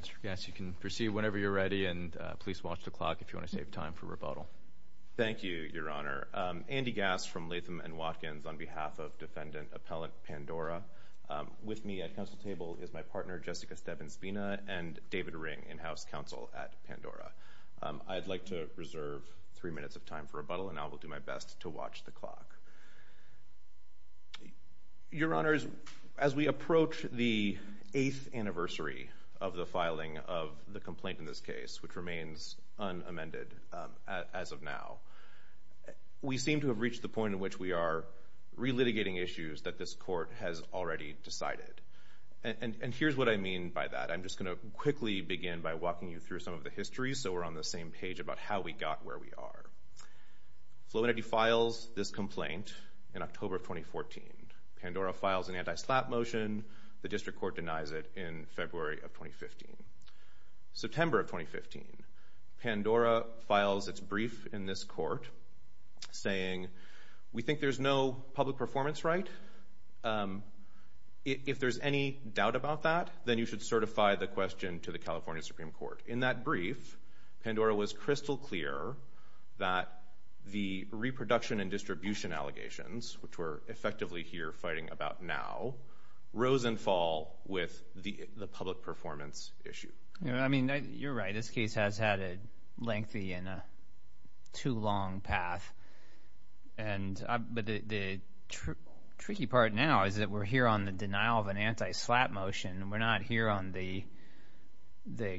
Mr. Gass, you can proceed whenever you're ready. And please watch the clock if you want to save time for rebuttal. Thank you, Your Honor. Andy Gass from Latham & Watkins, on behalf of Defendant Appellant Pandora. With me at counsel table is my partner, Jessica Stebbins-Bena, and David Ring, in-house counsel at Pandora. I'd like to reserve 3 minutes of time for rebuttal, and I will do my best to watch the clock. Your Honor, as we approach the 8th anniversary of the filing of the complaint in this case, which remains unamended as of now, we seem to have reached the point in which we are relitigating issues that this court has already decided. And here's what I mean by that. I'm just going to quickly begin by walking you through some of the history, so we're on the same page about how we got where we are. Flow Entity files this complaint in October of 2014. Pandora files an anti-SLAPP motion. The district court denies it in February of 2015. September of 2015, Pandora files its brief in this court, saying, we think there's no public performance right. If there's any doubt about that, then you should certify the question to the California Supreme Court. In that brief, Pandora was crystal clear that the reproduction and distribution allegations, which we're effectively here fighting about now, rose and fall with the public performance issue. I mean, you're right. This case has had a lengthy and too long path. But the tricky part now is that we're here on the denial of an anti-SLAPP motion, and we're not here on the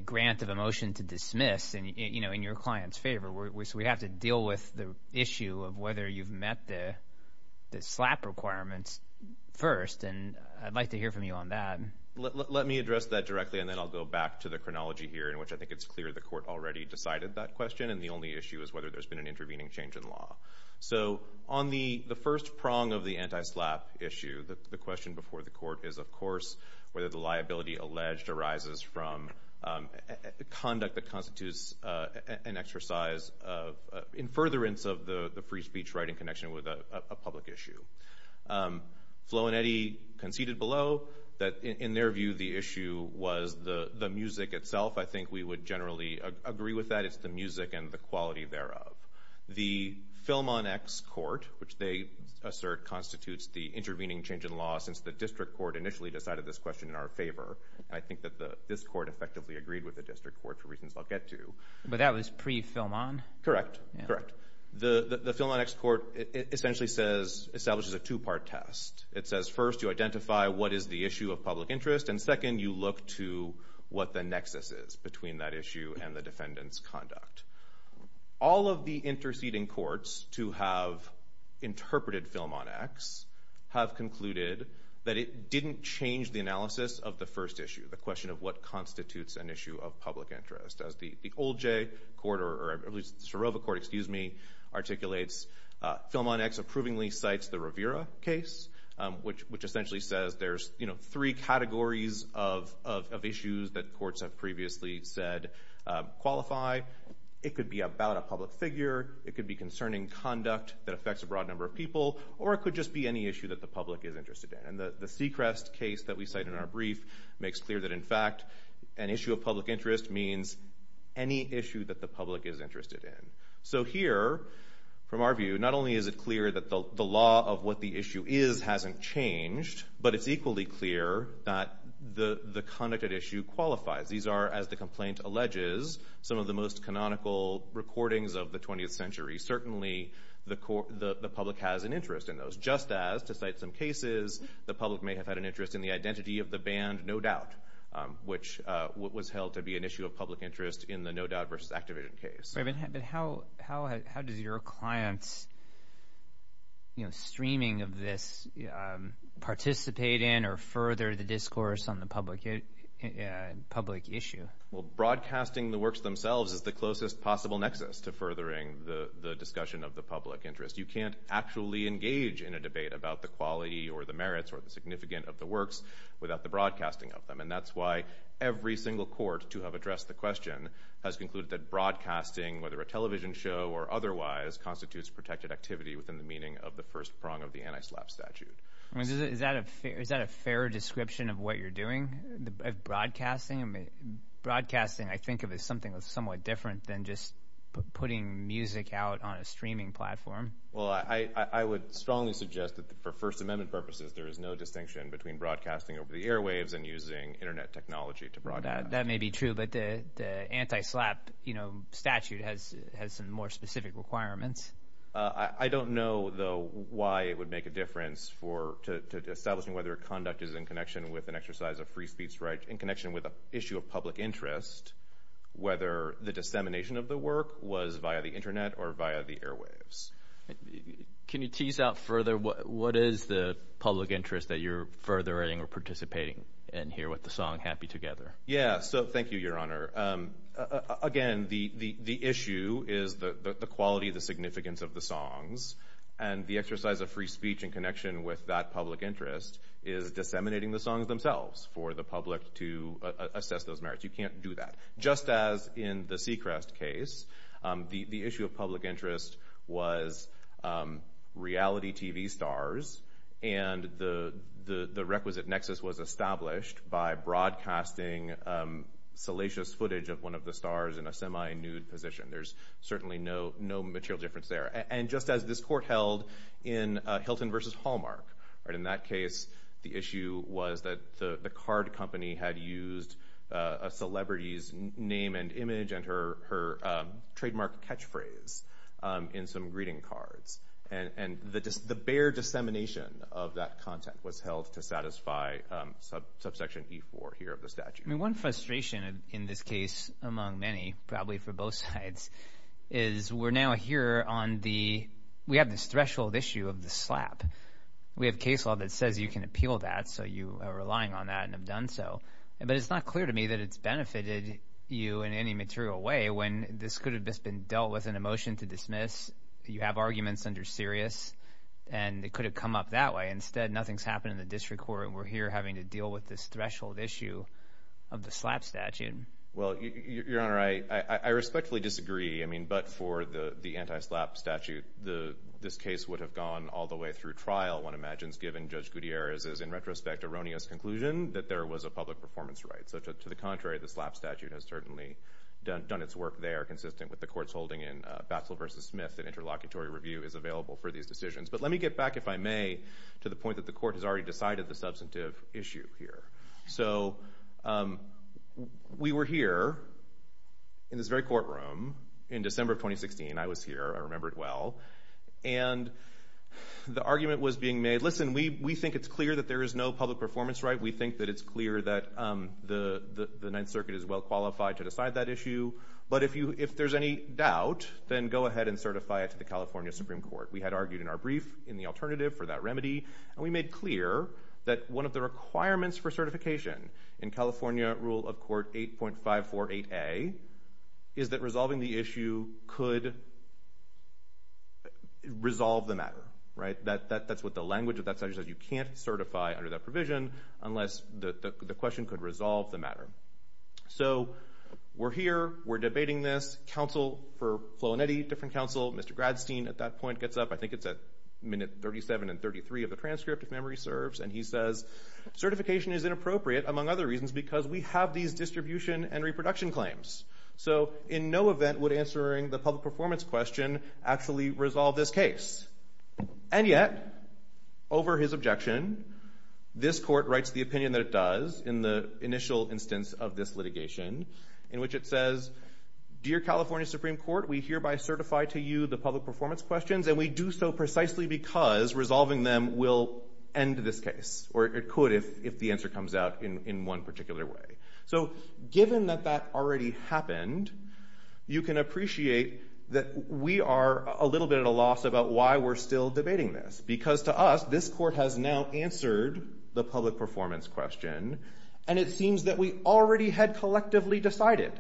grant of a motion to dismiss in your client's favor. So we have to deal with the issue of whether you've met the SLAPP requirements first, and I'd like to hear from you on that. Let me address that directly, and then I'll go back to the chronology here, in which I think it's clear the court already decided that question, and the only issue is whether there's been an intervening change in law. So on the first prong of the anti-SLAPP issue, the question before the court is, of course, whether the liability alleged arises from conduct that constitutes an exercise of in furtherance of the free speech writing connection with a public issue. Flo and Eddie conceded below that, in their view, the issue was the music itself. I think we would generally agree with that. It's the music and the quality thereof. The Film on X Court, which they assert constitutes the intervening change in law since the district court initially decided this question in our favor, and I think that this court effectively agreed with the district court for reasons I'll get to. But that was pre-Film on? Correct, correct. The Film on X Court essentially establishes a two-part test. It says, first, you identify what is the issue of public interest, and second, you look to what the nexus is between that issue and the defendant's conduct. All of the interceding courts to have interpreted Film on X have concluded that it didn't change the analysis of the first issue, the question of what constitutes an issue of public interest. As the Old J Court, or at least the Serova Court, excuse me, articulates, Film on X approvingly cites the Rivera case, which essentially says there's three categories of issues that courts have previously said qualify. It could be about a public figure, it could be concerning conduct that affects a broad number of people, or it could just be any issue that the public is interested in. And the Sechrest case that we cite in our brief makes clear that, in fact, an issue of public interest means any issue that the public is interested in. So here, from our view, not only is it clear that the law of what the issue is hasn't changed, but it's equally clear that the conduct at issue qualifies. These are, as the complaint alleges, some of the most canonical recordings of the 20th century. Certainly the public has an interest in those. Just as, to cite some cases, the public may have had an interest in the identity of the band No Doubt, which was held to be an issue of public interest in the No Doubt v. Activision case. How does your client's streaming of this participate in or further the discourse on the public issue? Broadcasting the works themselves is the closest possible nexus to furthering the discussion of the public interest. You can't actually engage in a debate about the quality or the merits or the significance of the works without the broadcasting of them. And that's why every single court to have addressed the question has concluded that broadcasting, whether a television show or otherwise, constitutes protected activity within the meaning of the first prong of the anti-slap statute. Is that a fair description of what you're doing, of broadcasting? Broadcasting I think of as something that's somewhat different than just putting music out on a streaming platform. Well, I would strongly suggest that, for First Amendment purposes, there is no distinction between broadcasting over the airwaves and using Internet technology to broadcast. That may be true, but the anti-slap statute has some more specific requirements. I don't know, though, why it would make a difference to establishing whether conduct is in connection with an exercise of free speech in connection with an issue of public interest, whether the dissemination of the work was via the Internet or via the airwaves. Can you tease out further what is the public interest that you're furthering or participating in here with the song Happy Together? Yeah, so thank you, Your Honor. Again, the issue is the quality, the significance of the songs, and the exercise of free speech in connection with that public interest is disseminating the songs themselves for the public to assess those merits. You can't do that. Just as in the Seacrest case, the issue of public interest was reality TV stars, and the requisite nexus was established by broadcasting salacious footage of one of the stars in a semi-nude position. There's certainly no material difference there. And just as this court held in Hilton v. Hallmark. In that case, the issue was that the card company had used a celebrity's name and image and her trademark catchphrase in some greeting cards, and the bare dissemination of that content was held to satisfy subsection E-4 here of the statute. One frustration in this case among many, probably for both sides, is we're now here on the—we have this threshold issue of the slap. We have case law that says you can appeal that, so you are relying on that and have done so. But it's not clear to me that it's benefited you in any material way when this could have just been dealt with in a motion to dismiss. You have arguments under Sirius, and it could have come up that way. Instead, nothing's happened in the district court, and we're here having to deal with this threshold issue of the slap statute. Well, Your Honor, I respectfully disagree. I mean, but for the anti-slap statute, this case would have gone all the way through trial, one imagines, given Judge Gutierrez's, in retrospect, erroneous conclusion that there was a public performance right. So to the contrary, the slap statute has certainly done its work there, consistent with the court's holding in Batzel v. Smith that interlocutory review is available for these decisions. But let me get back, if I may, to the point that the court has already decided the substantive issue here. So we were here in this very courtroom in December of 2016. I was here. I remember it well. And the argument was being made, listen, we think it's clear that there is no public performance right. We think that it's clear that the Ninth Circuit is well qualified to decide that issue. But if there's any doubt, then go ahead and certify it to the California Supreme Court. We had argued in our brief in the alternative for that remedy, and we made clear that one of the requirements for certification in California Rule of Court 8.548A is that resolving the issue could resolve the matter. That's what the language of that statute says. You can't certify under that provision unless the question could resolve the matter. So we're here. We're debating this. The counsel for Flo and Eddie, different counsel, Mr. Gradstein at that point gets up. I think it's at minute 37 and 33 of the transcript, if memory serves. And he says certification is inappropriate, among other reasons, because we have these distribution and reproduction claims. So in no event would answering the public performance question actually resolve this case. And yet, over his objection, this court writes the opinion that it does in the initial instance of this litigation, in which it says, Dear California Supreme Court, we hereby certify to you the public performance questions, and we do so precisely because resolving them will end this case, or it could if the answer comes out in one particular way. So given that that already happened, you can appreciate that we are a little bit at a loss about why we're still debating this, because to us, this court has now answered the public performance question, and it seems that we already had collectively decided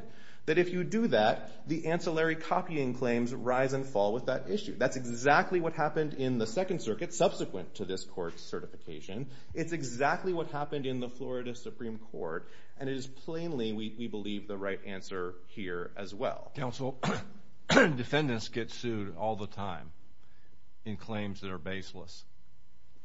that if you do that, the ancillary copying claims rise and fall with that issue. That's exactly what happened in the Second Circuit subsequent to this court's certification. It's exactly what happened in the Florida Supreme Court, and it is plainly, we believe, the right answer here as well. Counsel, defendants get sued all the time in claims that are baseless.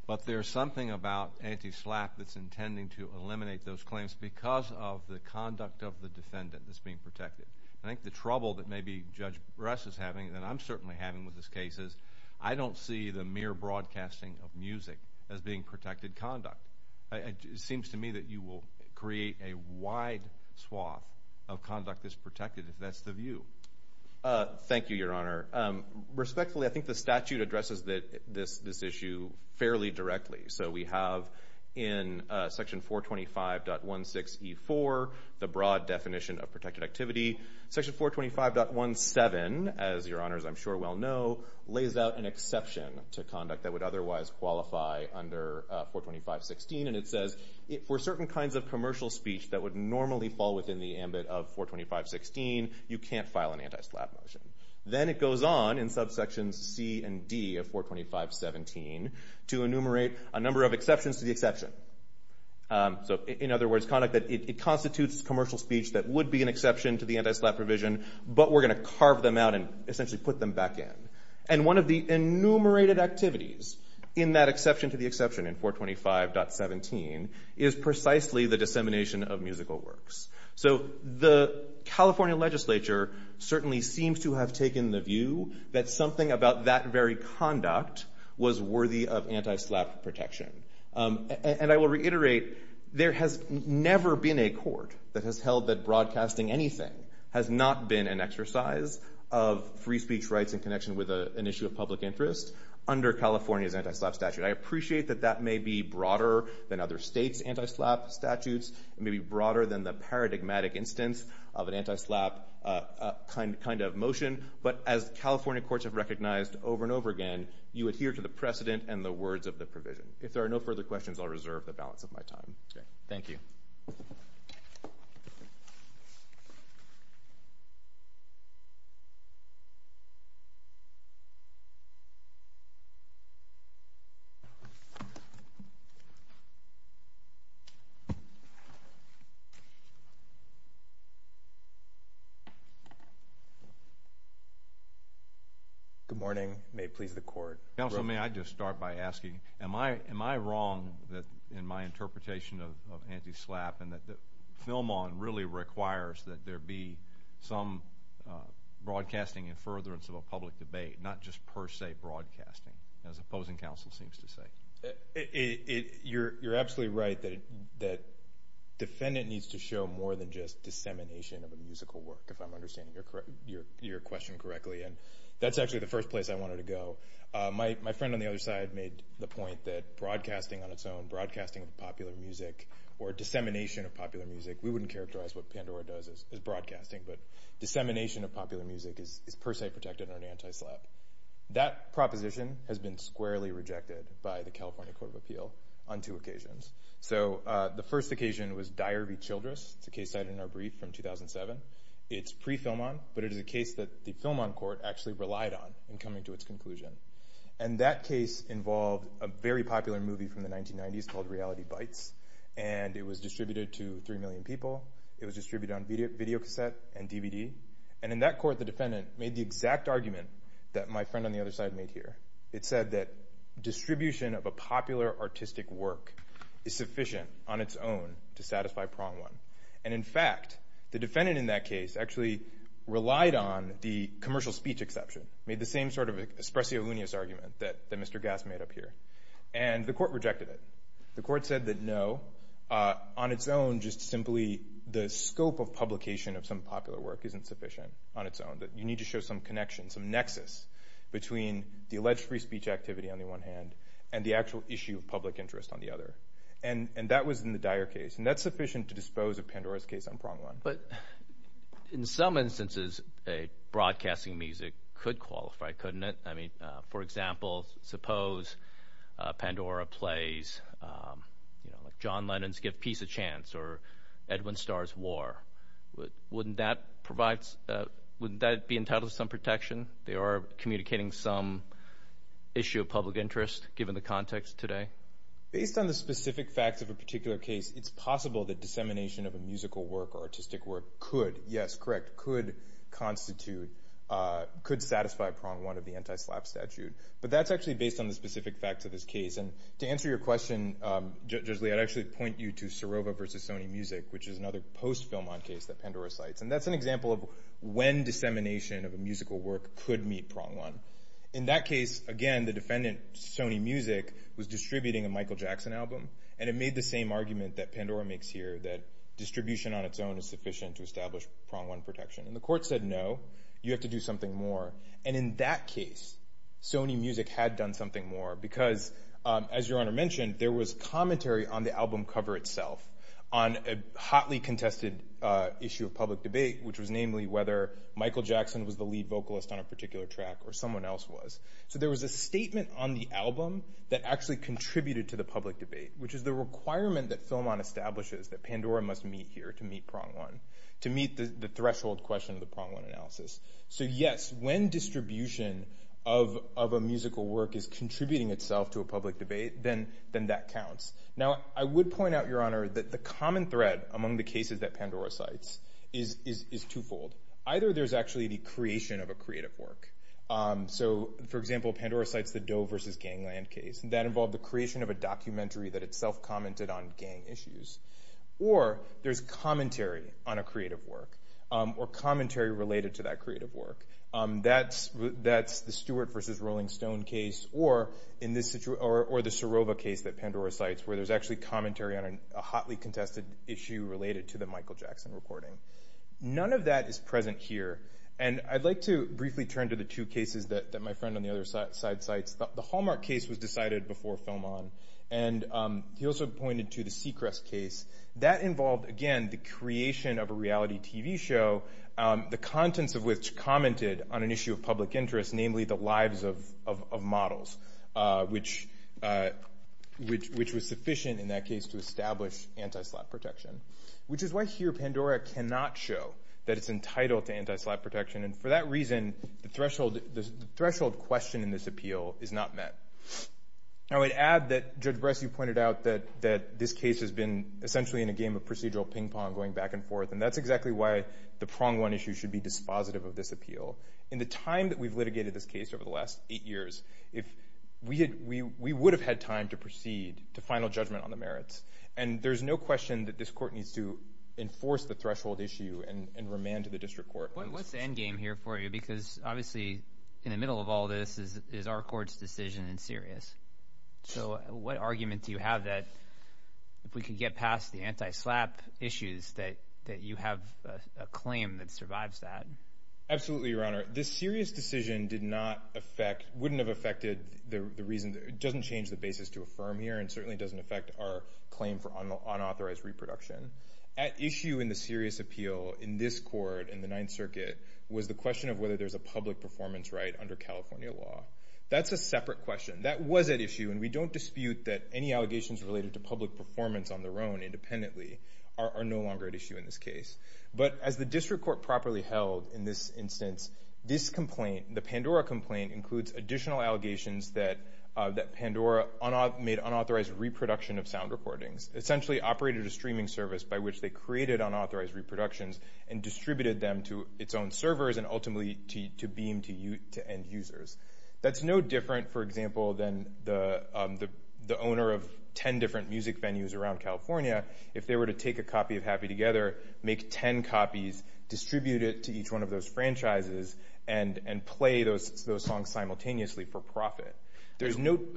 But there's something about anti-SLAPP that's intending to eliminate those claims because of the conduct of the defendant that's being protected. I think the trouble that maybe Judge Bress is having, and I'm certainly having with this case, is I don't see the mere broadcasting of music as being protected conduct. It seems to me that you will create a wide swath of conduct that's protected, if that's the view. Thank you, Your Honor. Respectfully, I think the statute addresses this issue fairly directly. So we have in Section 425.16E4 the broad definition of protected activity. Section 425.17, as Your Honors, I'm sure, well know, lays out an exception to conduct that would otherwise qualify under 425.16, and it says for certain kinds of commercial speech that would normally fall within the ambit of 425.16, you can't file an anti-SLAPP motion. Then it goes on in subsections C and D of 425.17 to enumerate a number of exceptions to the exception. So in other words, conduct that constitutes commercial speech that would be an exception to the anti-SLAPP provision, but we're going to carve them out and essentially put them back in. And one of the enumerated activities in that exception to the exception in 425.17 is precisely the dissemination of musical works. So the California legislature certainly seems to have taken the view that something about that very conduct was worthy of anti-SLAPP protection. And I will reiterate, there has never been a court that has held that broadcasting anything has not been an exercise of free speech rights in connection with an issue of public interest under California's anti-SLAPP statute. I appreciate that that may be broader than other states' anti-SLAPP statutes, it may be broader than the paradigmatic instance of an anti-SLAPP kind of motion, but as California courts have recognized over and over again, you adhere to the precedent and the words of the provision. If there are no further questions, I'll reserve the balance of my time. Thank you. Good morning. Counsel, may I just start by asking, am I wrong in my interpretation of anti-SLAPP and that FilmOn really requires that there be some broadcasting and furtherance of a public debate, not just per se broadcasting, as opposing counsel seems to say? You're absolutely right that defendant needs to show more than just dissemination of a musical work, if I'm understanding your question correctly. And that's actually the first place I wanted to go. My friend on the other side made the point that broadcasting on its own, broadcasting of popular music or dissemination of popular music, we wouldn't characterize what Pandora does as broadcasting, but dissemination of popular music is per se protected under anti-SLAPP. That proposition has been squarely rejected by the California Court of Appeal on two occasions. So the first occasion was Dyer v. Childress. It's a case cited in our brief from 2007. It's pre-FilmOn, but it is a case that the FilmOn court actually relied on in coming to its conclusion. And that case involved a very popular movie from the 1990s called Reality Bites. And it was distributed to 3 million people. It was distributed on videocassette and DVD. And in that court, the defendant made the exact argument that my friend on the other side made here. It said that distribution of a popular artistic work is sufficient on its own to satisfy prong one. And, in fact, the defendant in that case actually relied on the commercial speech exception, made the same sort of espressolunius argument that Mr. Gass made up here. And the court rejected it. The court said that, no, on its own, just simply the scope of publication of some popular work isn't sufficient on its own, that you need to show some connection, some nexus between the alleged free speech activity on the one hand and the actual issue of public interest on the other. And that was in the Dyer case. And that's sufficient to dispose of Pandora's case on prong one. But in some instances, a broadcasting music could qualify, couldn't it? I mean, for example, suppose Pandora plays, you know, like John Lennon's Give Peace a Chance or Edwin Starr's War. Wouldn't that be entitled to some protection? They are communicating some issue of public interest given the context today. Based on the specific facts of a particular case, it's possible that dissemination of a musical work or artistic work could, yes, correct, could constitute, could satisfy prong one of the anti-SLAPP statute. But that's actually based on the specific facts of this case. And to answer your question, Judge Lee, I'd actually point you to Serova v. Sony Music, which is another post-Filmon case that Pandora cites. And that's an example of when dissemination of a musical work could meet prong one. In that case, again, the defendant, Sony Music, was distributing a Michael Jackson album. And it made the same argument that Pandora makes here, that distribution on its own is sufficient to establish prong one protection. And the court said, no, you have to do something more. And in that case, Sony Music had done something more because, as Your Honor mentioned, there was commentary on the album cover itself on a hotly contested issue of public debate, which was namely whether Michael Jackson was the lead vocalist on a particular track or someone else was. So there was a statement on the album that actually contributed to the public debate, which is the requirement that Filmon establishes that Pandora must meet here to meet prong one, to meet the threshold question of the prong one analysis. So, yes, when distribution of a musical work is contributing itself to a public debate, then that counts. Now, I would point out, Your Honor, that the common thread among the cases that Pandora cites is twofold. Either there's actually the creation of a creative work. So, for example, Pandora cites the Doe versus Gangland case. That involved the creation of a documentary that itself commented on gang issues. Or there's commentary on a creative work or commentary related to that creative work. That's the Stewart versus Rolling Stone case. Or the Sorova case that Pandora cites, where there's actually commentary on a hotly contested issue related to the Michael Jackson recording. None of that is present here. And I'd like to briefly turn to the two cases that my friend on the other side cites. The Hallmark case was decided before Filmon. And he also pointed to the Seacrest case. That involved, again, the creation of a reality TV show, the contents of which commented on an issue of public interest, namely the lives of models, which was sufficient in that case to establish anti-slap protection. Which is why here Pandora cannot show that it's entitled to anti-slap protection. And for that reason, the threshold question in this appeal is not met. I would add that Judge Bresci pointed out that this case has been essentially in a game of procedural ping-pong going back and forth. And that's exactly why the prong one issue should be dispositive of this appeal. In the time that we've litigated this case over the last eight years, we would have had time to proceed to final judgment on the merits. And there's no question that this court needs to enforce the threshold issue and remand to the district court. What's the end game here for you? Because obviously in the middle of all this is our court's decision in Sirius. So what argument do you have that if we can get past the anti-slap issues that you have a claim that survives that? Absolutely, Your Honor. This Sirius decision did not affect – wouldn't have affected the reason – doesn't change the basis to affirm here and certainly doesn't affect our claim for unauthorized reproduction. At issue in the Sirius appeal in this court, in the Ninth Circuit, was the question of whether there's a public performance right under California law. That's a separate question. That was at issue, and we don't dispute that any allegations related to public performance on their own independently are no longer at issue in this case. But as the district court properly held in this instance, this complaint, the Pandora complaint, includes additional allegations that Pandora made unauthorized reproduction of sound recordings, essentially operated a streaming service by which they created unauthorized reproductions and distributed them to its own servers and ultimately to Beam to end users. That's no different, for example, than the owner of 10 different music venues around California. If they were to take a copy of Happy Together, make 10 copies, distribute it to each one of those franchises, and play those songs simultaneously for profit, there's no –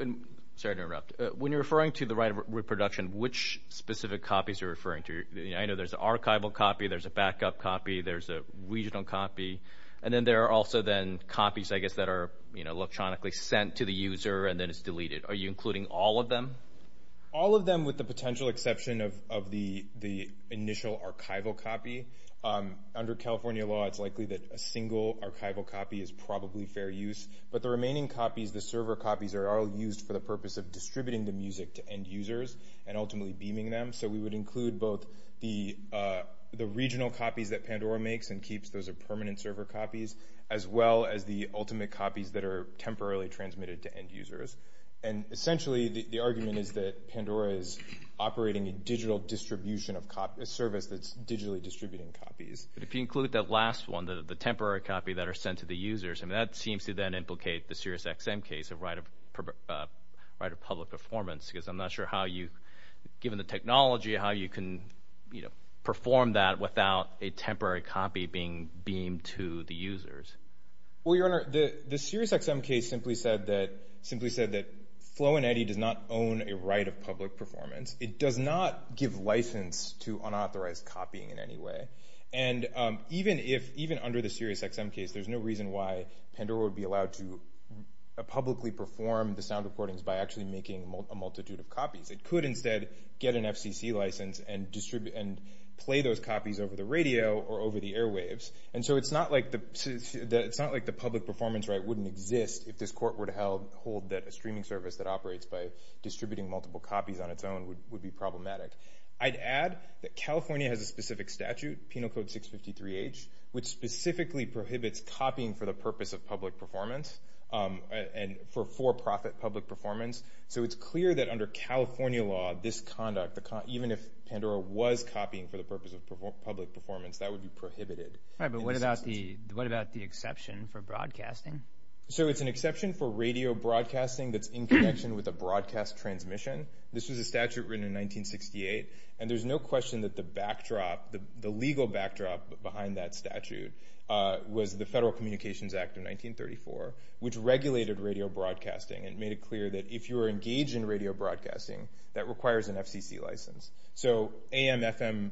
Sorry to interrupt. When you're referring to the right of reproduction, which specific copies are you referring to? I know there's an archival copy, there's a backup copy, there's a regional copy, and then there are also then copies, I guess, that are electronically sent to the user and then it's deleted. Are you including all of them? All of them with the potential exception of the initial archival copy. Under California law, it's likely that a single archival copy is probably fair use, but the remaining copies, the server copies, are all used for the purpose of distributing the music to end users and ultimately beaming them. So we would include both the regional copies that Pandora makes and keeps those as permanent server copies, as well as the ultimate copies that are temporarily transmitted to end users. Essentially, the argument is that Pandora is operating a digital distribution of copies – a service that's digitally distributing copies. If you include that last one, the temporary copy that are sent to the users, that seems to then implicate the SiriusXM case of right of public performance, because I'm not sure how you, given the technology, how you can perform that without a temporary copy being beamed to the users. Well, Your Honor, the SiriusXM case simply said that Flow and Eddie does not own a right of public performance. It does not give license to unauthorized copying in any way. And even under the SiriusXM case, there's no reason why Pandora would be allowed to publicly perform the sound recordings by actually making a multitude of copies. It could instead get an FCC license and play those copies over the radio or over the airwaves. And so it's not like the public performance right wouldn't exist if this court were to hold that a streaming service that operates by distributing multiple copies on its own would be problematic. I'd add that California has a specific statute, Penal Code 653H, which specifically prohibits copying for the purpose of public performance and for for-profit public performance. So it's clear that under California law, this conduct, even if Pandora was copying for the purpose of public performance, that would be prohibited. Right, but what about the exception for broadcasting? So it's an exception for radio broadcasting that's in connection with a broadcast transmission. This was a statute written in 1968, and there's no question that the legal backdrop behind that statute was the Federal Communications Act of 1934, which regulated radio broadcasting and made it clear that if you were engaged in radio broadcasting, that requires an FCC license. So AM, FM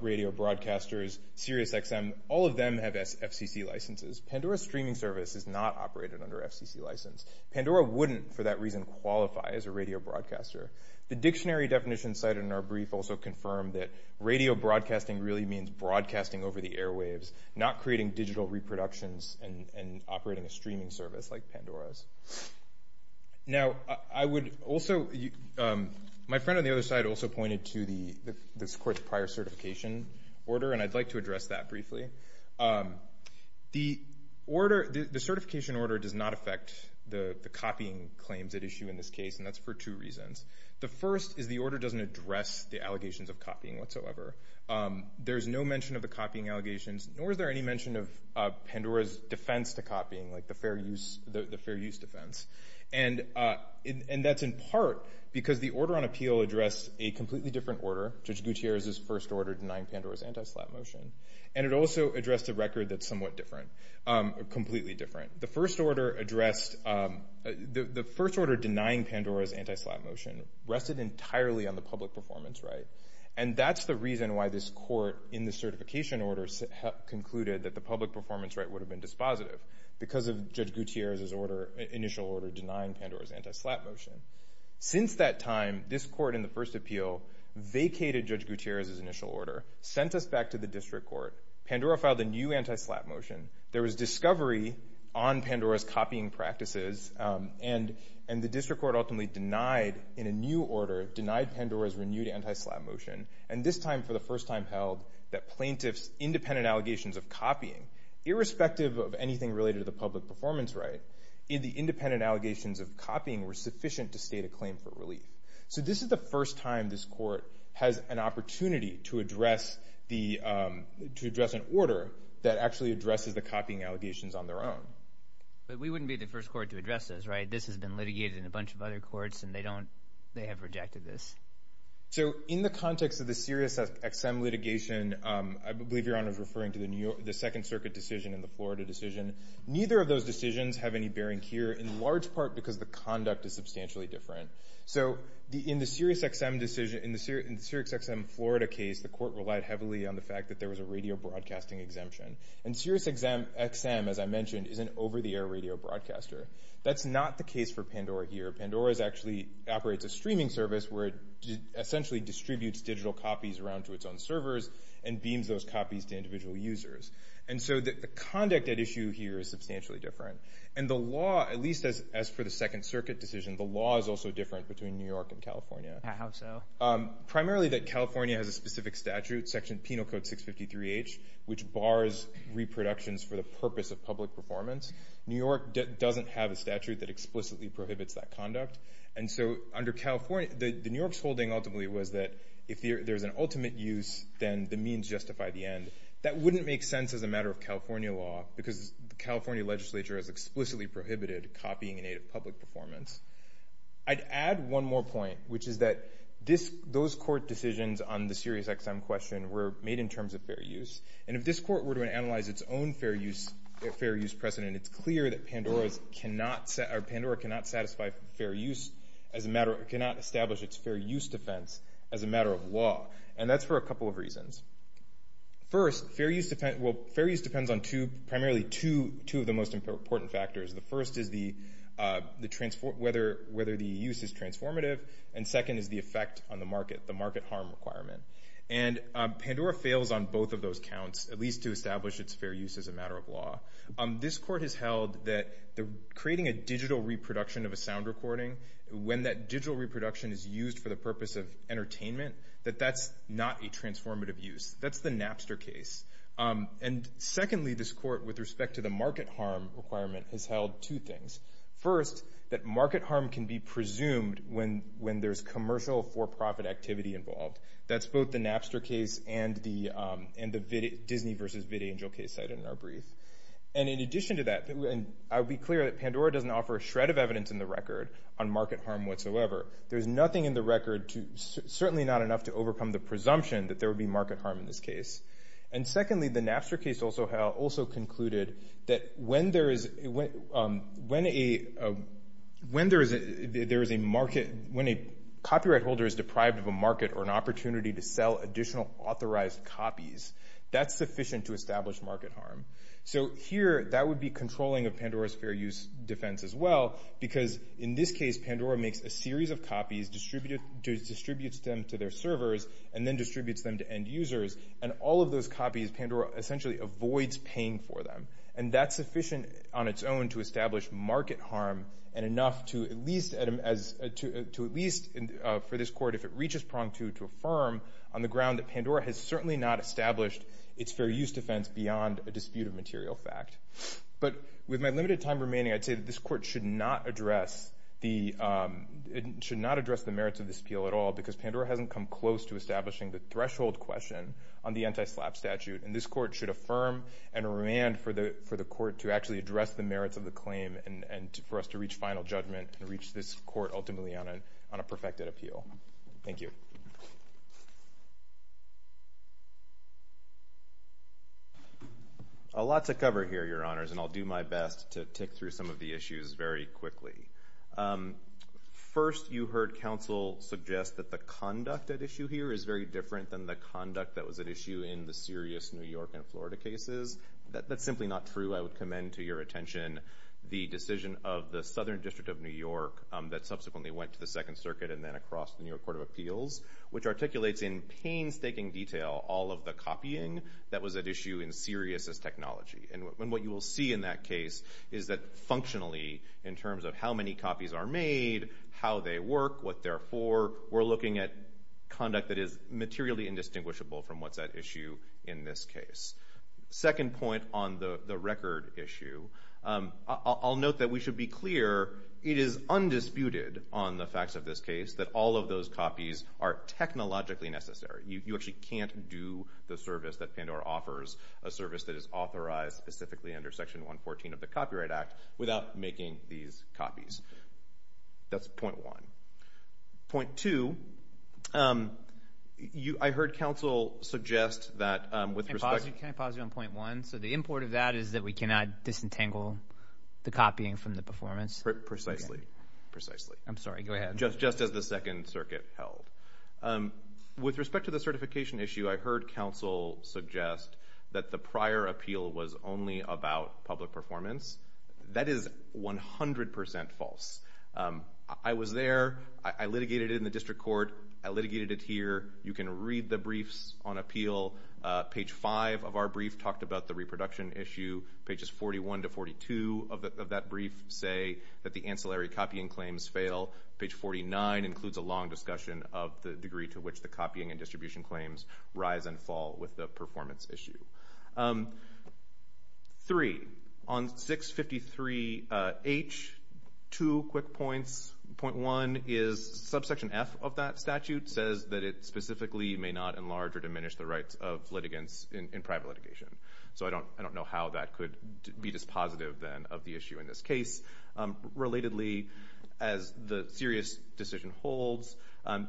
radio broadcasters, SiriusXM, all of them have FCC licenses. Pandora's streaming service is not operated under FCC license. Pandora wouldn't, for that reason, qualify as a radio broadcaster. The dictionary definition cited in our brief also confirmed that radio broadcasting really means broadcasting over the airwaves, not creating digital reproductions and operating a streaming service like Pandora's. Now, I would also, my friend on the other side also pointed to this court's prior certification order, and I'd like to address that briefly. The certification order does not affect the copying claims at issue in this case, and that's for two reasons. The first is the order doesn't address the allegations of copying whatsoever. There's no mention of the copying allegations, nor is there any mention of Pandora's defense to copying, like the fair use defense. And that's in part because the order on appeal addressed a completely different order, Judge Gutierrez's first order denying Pandora's anti-slap motion, and it also addressed a record that's somewhat different, completely different. The first order addressed, the first order denying Pandora's anti-slap motion rested entirely on the public performance right, and that's the reason why this court in the certification order concluded that the public performance right would have been dispositive, because of Judge Gutierrez's initial order denying Pandora's anti-slap motion. Since that time, this court in the first appeal vacated Judge Gutierrez's initial order, sent us back to the district court. Pandora filed a new anti-slap motion. There was discovery on Pandora's copying practices, and the district court ultimately denied, in a new order, denied Pandora's renewed anti-slap motion, and this time for the first time held that plaintiff's independent allegations of copying, irrespective of anything related to the public performance right, the independent allegations of copying were sufficient to state a claim for relief. So this is the first time this court has an opportunity to address an order that actually addresses the copying allegations on their own. But we wouldn't be the first court to address this, right? This has been litigated in a bunch of other courts, and they have rejected this. So in the context of the SiriusXM litigation, I believe Your Honor is referring to the Second Circuit decision and the Florida decision. Neither of those decisions have any bearing here, in large part because the conduct is substantially different. So in the SiriusXM Florida case, the court relied heavily on the fact that there was a radio broadcasting exemption. And SiriusXM, as I mentioned, is an over-the-air radio broadcaster. That's not the case for Pandora here. Pandora actually operates a streaming service where it essentially distributes digital copies around to its own servers and beams those copies to individual users. And so the conduct at issue here is substantially different. And the law, at least as for the Second Circuit decision, the law is also different between New York and California. How so? Primarily that California has a specific statute, section Penal Code 653H, which bars reproductions for the purpose of public performance. New York doesn't have a statute that explicitly prohibits that conduct. And so under California, the New York's holding ultimately was that if there's an ultimate use, then the means justify the end. That wouldn't make sense as a matter of California law because the California legislature has explicitly prohibited copying in aid of public performance. I'd add one more point, which is that those court decisions on the SiriusXM question were made in terms of fair use. And if this court were to analyze its own fair use precedent, it's clear that Pandora cannot establish its fair use defense as a matter of law. And that's for a couple of reasons. First, fair use depends on primarily two of the most important factors. The first is whether the use is transformative. And second is the effect on the market, the market harm requirement. And Pandora fails on both of those counts, at least to establish its fair use as a matter of law. This court has held that creating a digital reproduction of a sound recording, when that digital reproduction is used for the purpose of entertainment, that that's not a transformative use. That's the Napster case. And secondly, this court, with respect to the market harm requirement, has held two things. First, that market harm can be presumed when there's commercial for-profit activity involved. That's both the Napster case and the Disney v. Vidangel case cited in our brief. And in addition to that, I would be clear that Pandora doesn't offer a shred of evidence in the record on market harm whatsoever. There's nothing in the record, certainly not enough to overcome the presumption that there would be market harm in this case. And secondly, the Napster case also concluded that when there is a market, when a copyright holder is deprived of a market or an opportunity to sell additional authorized copies, that's sufficient to establish market harm. So here, that would be controlling of Pandora's fair use defense as well, because in this case, Pandora makes a series of copies, distributes them to their servers, and then distributes them to end users. And all of those copies, Pandora essentially avoids paying for them. And that's sufficient on its own to establish market harm and enough to at least for this court, if it reaches prong two, to affirm on the ground that Pandora has certainly not established its fair use defense beyond a dispute of material fact. But with my limited time remaining, I'd say that this court should not address the merits of this appeal at all, because Pandora hasn't come close to establishing the threshold question on the anti-SLAPP statute. And this court should affirm and remand for the court to actually address the merits of the claim and for us to reach final judgment and reach this court ultimately on a perfected appeal. Thank you. Lots of cover here, Your Honors, and I'll do my best to tick through some of the issues very quickly. First, you heard counsel suggest that the conduct at issue here is very different than the conduct that was at issue in the Sirius New York and Florida cases. That's simply not true. I would commend to your attention the decision of the Southern District of New York that subsequently went to the Second Circuit and then across the New York Court of Appeals, which articulates in painstaking detail all of the copying that was at issue in Sirius's technology. And what you will see in that case is that functionally in terms of how many copies are made, how they work, what they're for, we're looking at conduct that is materially indistinguishable from what's at issue in this case. Second point on the record issue, I'll note that we should be clear it is undisputed on the facts of this case that all of those copies are technologically necessary. You actually can't do the service that Pandora offers, a service that is authorized specifically under Section 114 of the Copyright Act, without making these copies. That's point one. Point two, I heard counsel suggest that with respect to... Can I pause you on point one? So the import of that is that we cannot disentangle the copying from the performance? Precisely, precisely. I'm sorry, go ahead. Just as the Second Circuit held. With respect to the certification issue, I heard counsel suggest that the prior appeal was only about public performance. That is 100% false. I was there. I litigated it in the district court. I litigated it here. You can read the briefs on appeal. Page five of our brief talked about the reproduction issue. Pages 41 to 42 of that brief say that the ancillary copying claims fail. Page 49 includes a long discussion of the degree to which the copying and distribution claims rise and fall with the performance issue. Three, on 653H, two quick points. Point one is subsection F of that statute says that it specifically may not enlarge or diminish the rights of litigants in private litigation. So I don't know how that could be dispositive then of the issue in this case. Relatedly, as the serious decision holds,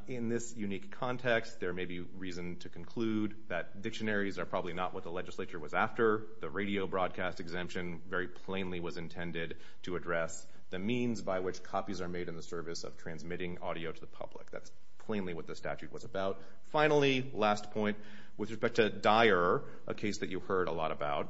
in this unique context, there may be reason to conclude that dictionaries are probably not what the legislature was after. The radio broadcast exemption very plainly was intended to address the means by which copies are made in the service of transmitting audio to the public. That's plainly what the statute was about. Finally, last point, with respect to Dyer, a case that you heard a lot about,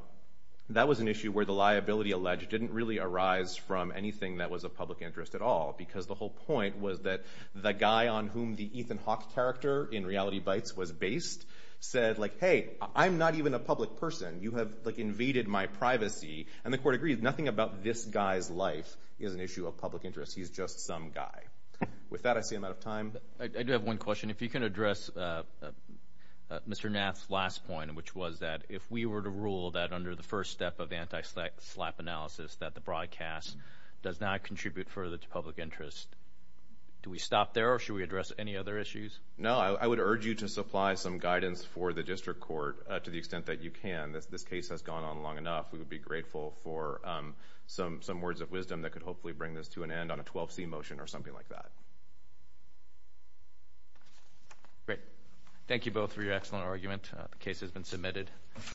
that was an issue where the liability alleged didn't really arise from anything that was of public interest at all because the whole point was that the guy on whom the Ethan Hawke character in Reality Bites was based said, like, hey, I'm not even a public person. You have, like, invaded my privacy. And the court agreed, nothing about this guy's life is an issue of public interest. He's just some guy. With that, I see I'm out of time. I do have one question. If you can address Mr. Nath's last point, which was that if we were to rule that under the first step of anti-slap analysis that the broadcast does not contribute further to public interest, do we stop there or should we address any other issues? No, I would urge you to supply some guidance for the district court to the extent that you can. This case has gone on long enough. We would be grateful for some words of wisdom that could hopefully bring this to an end on a 12C motion or something like that. Great. Thank you both for your excellent argument. The case has been submitted.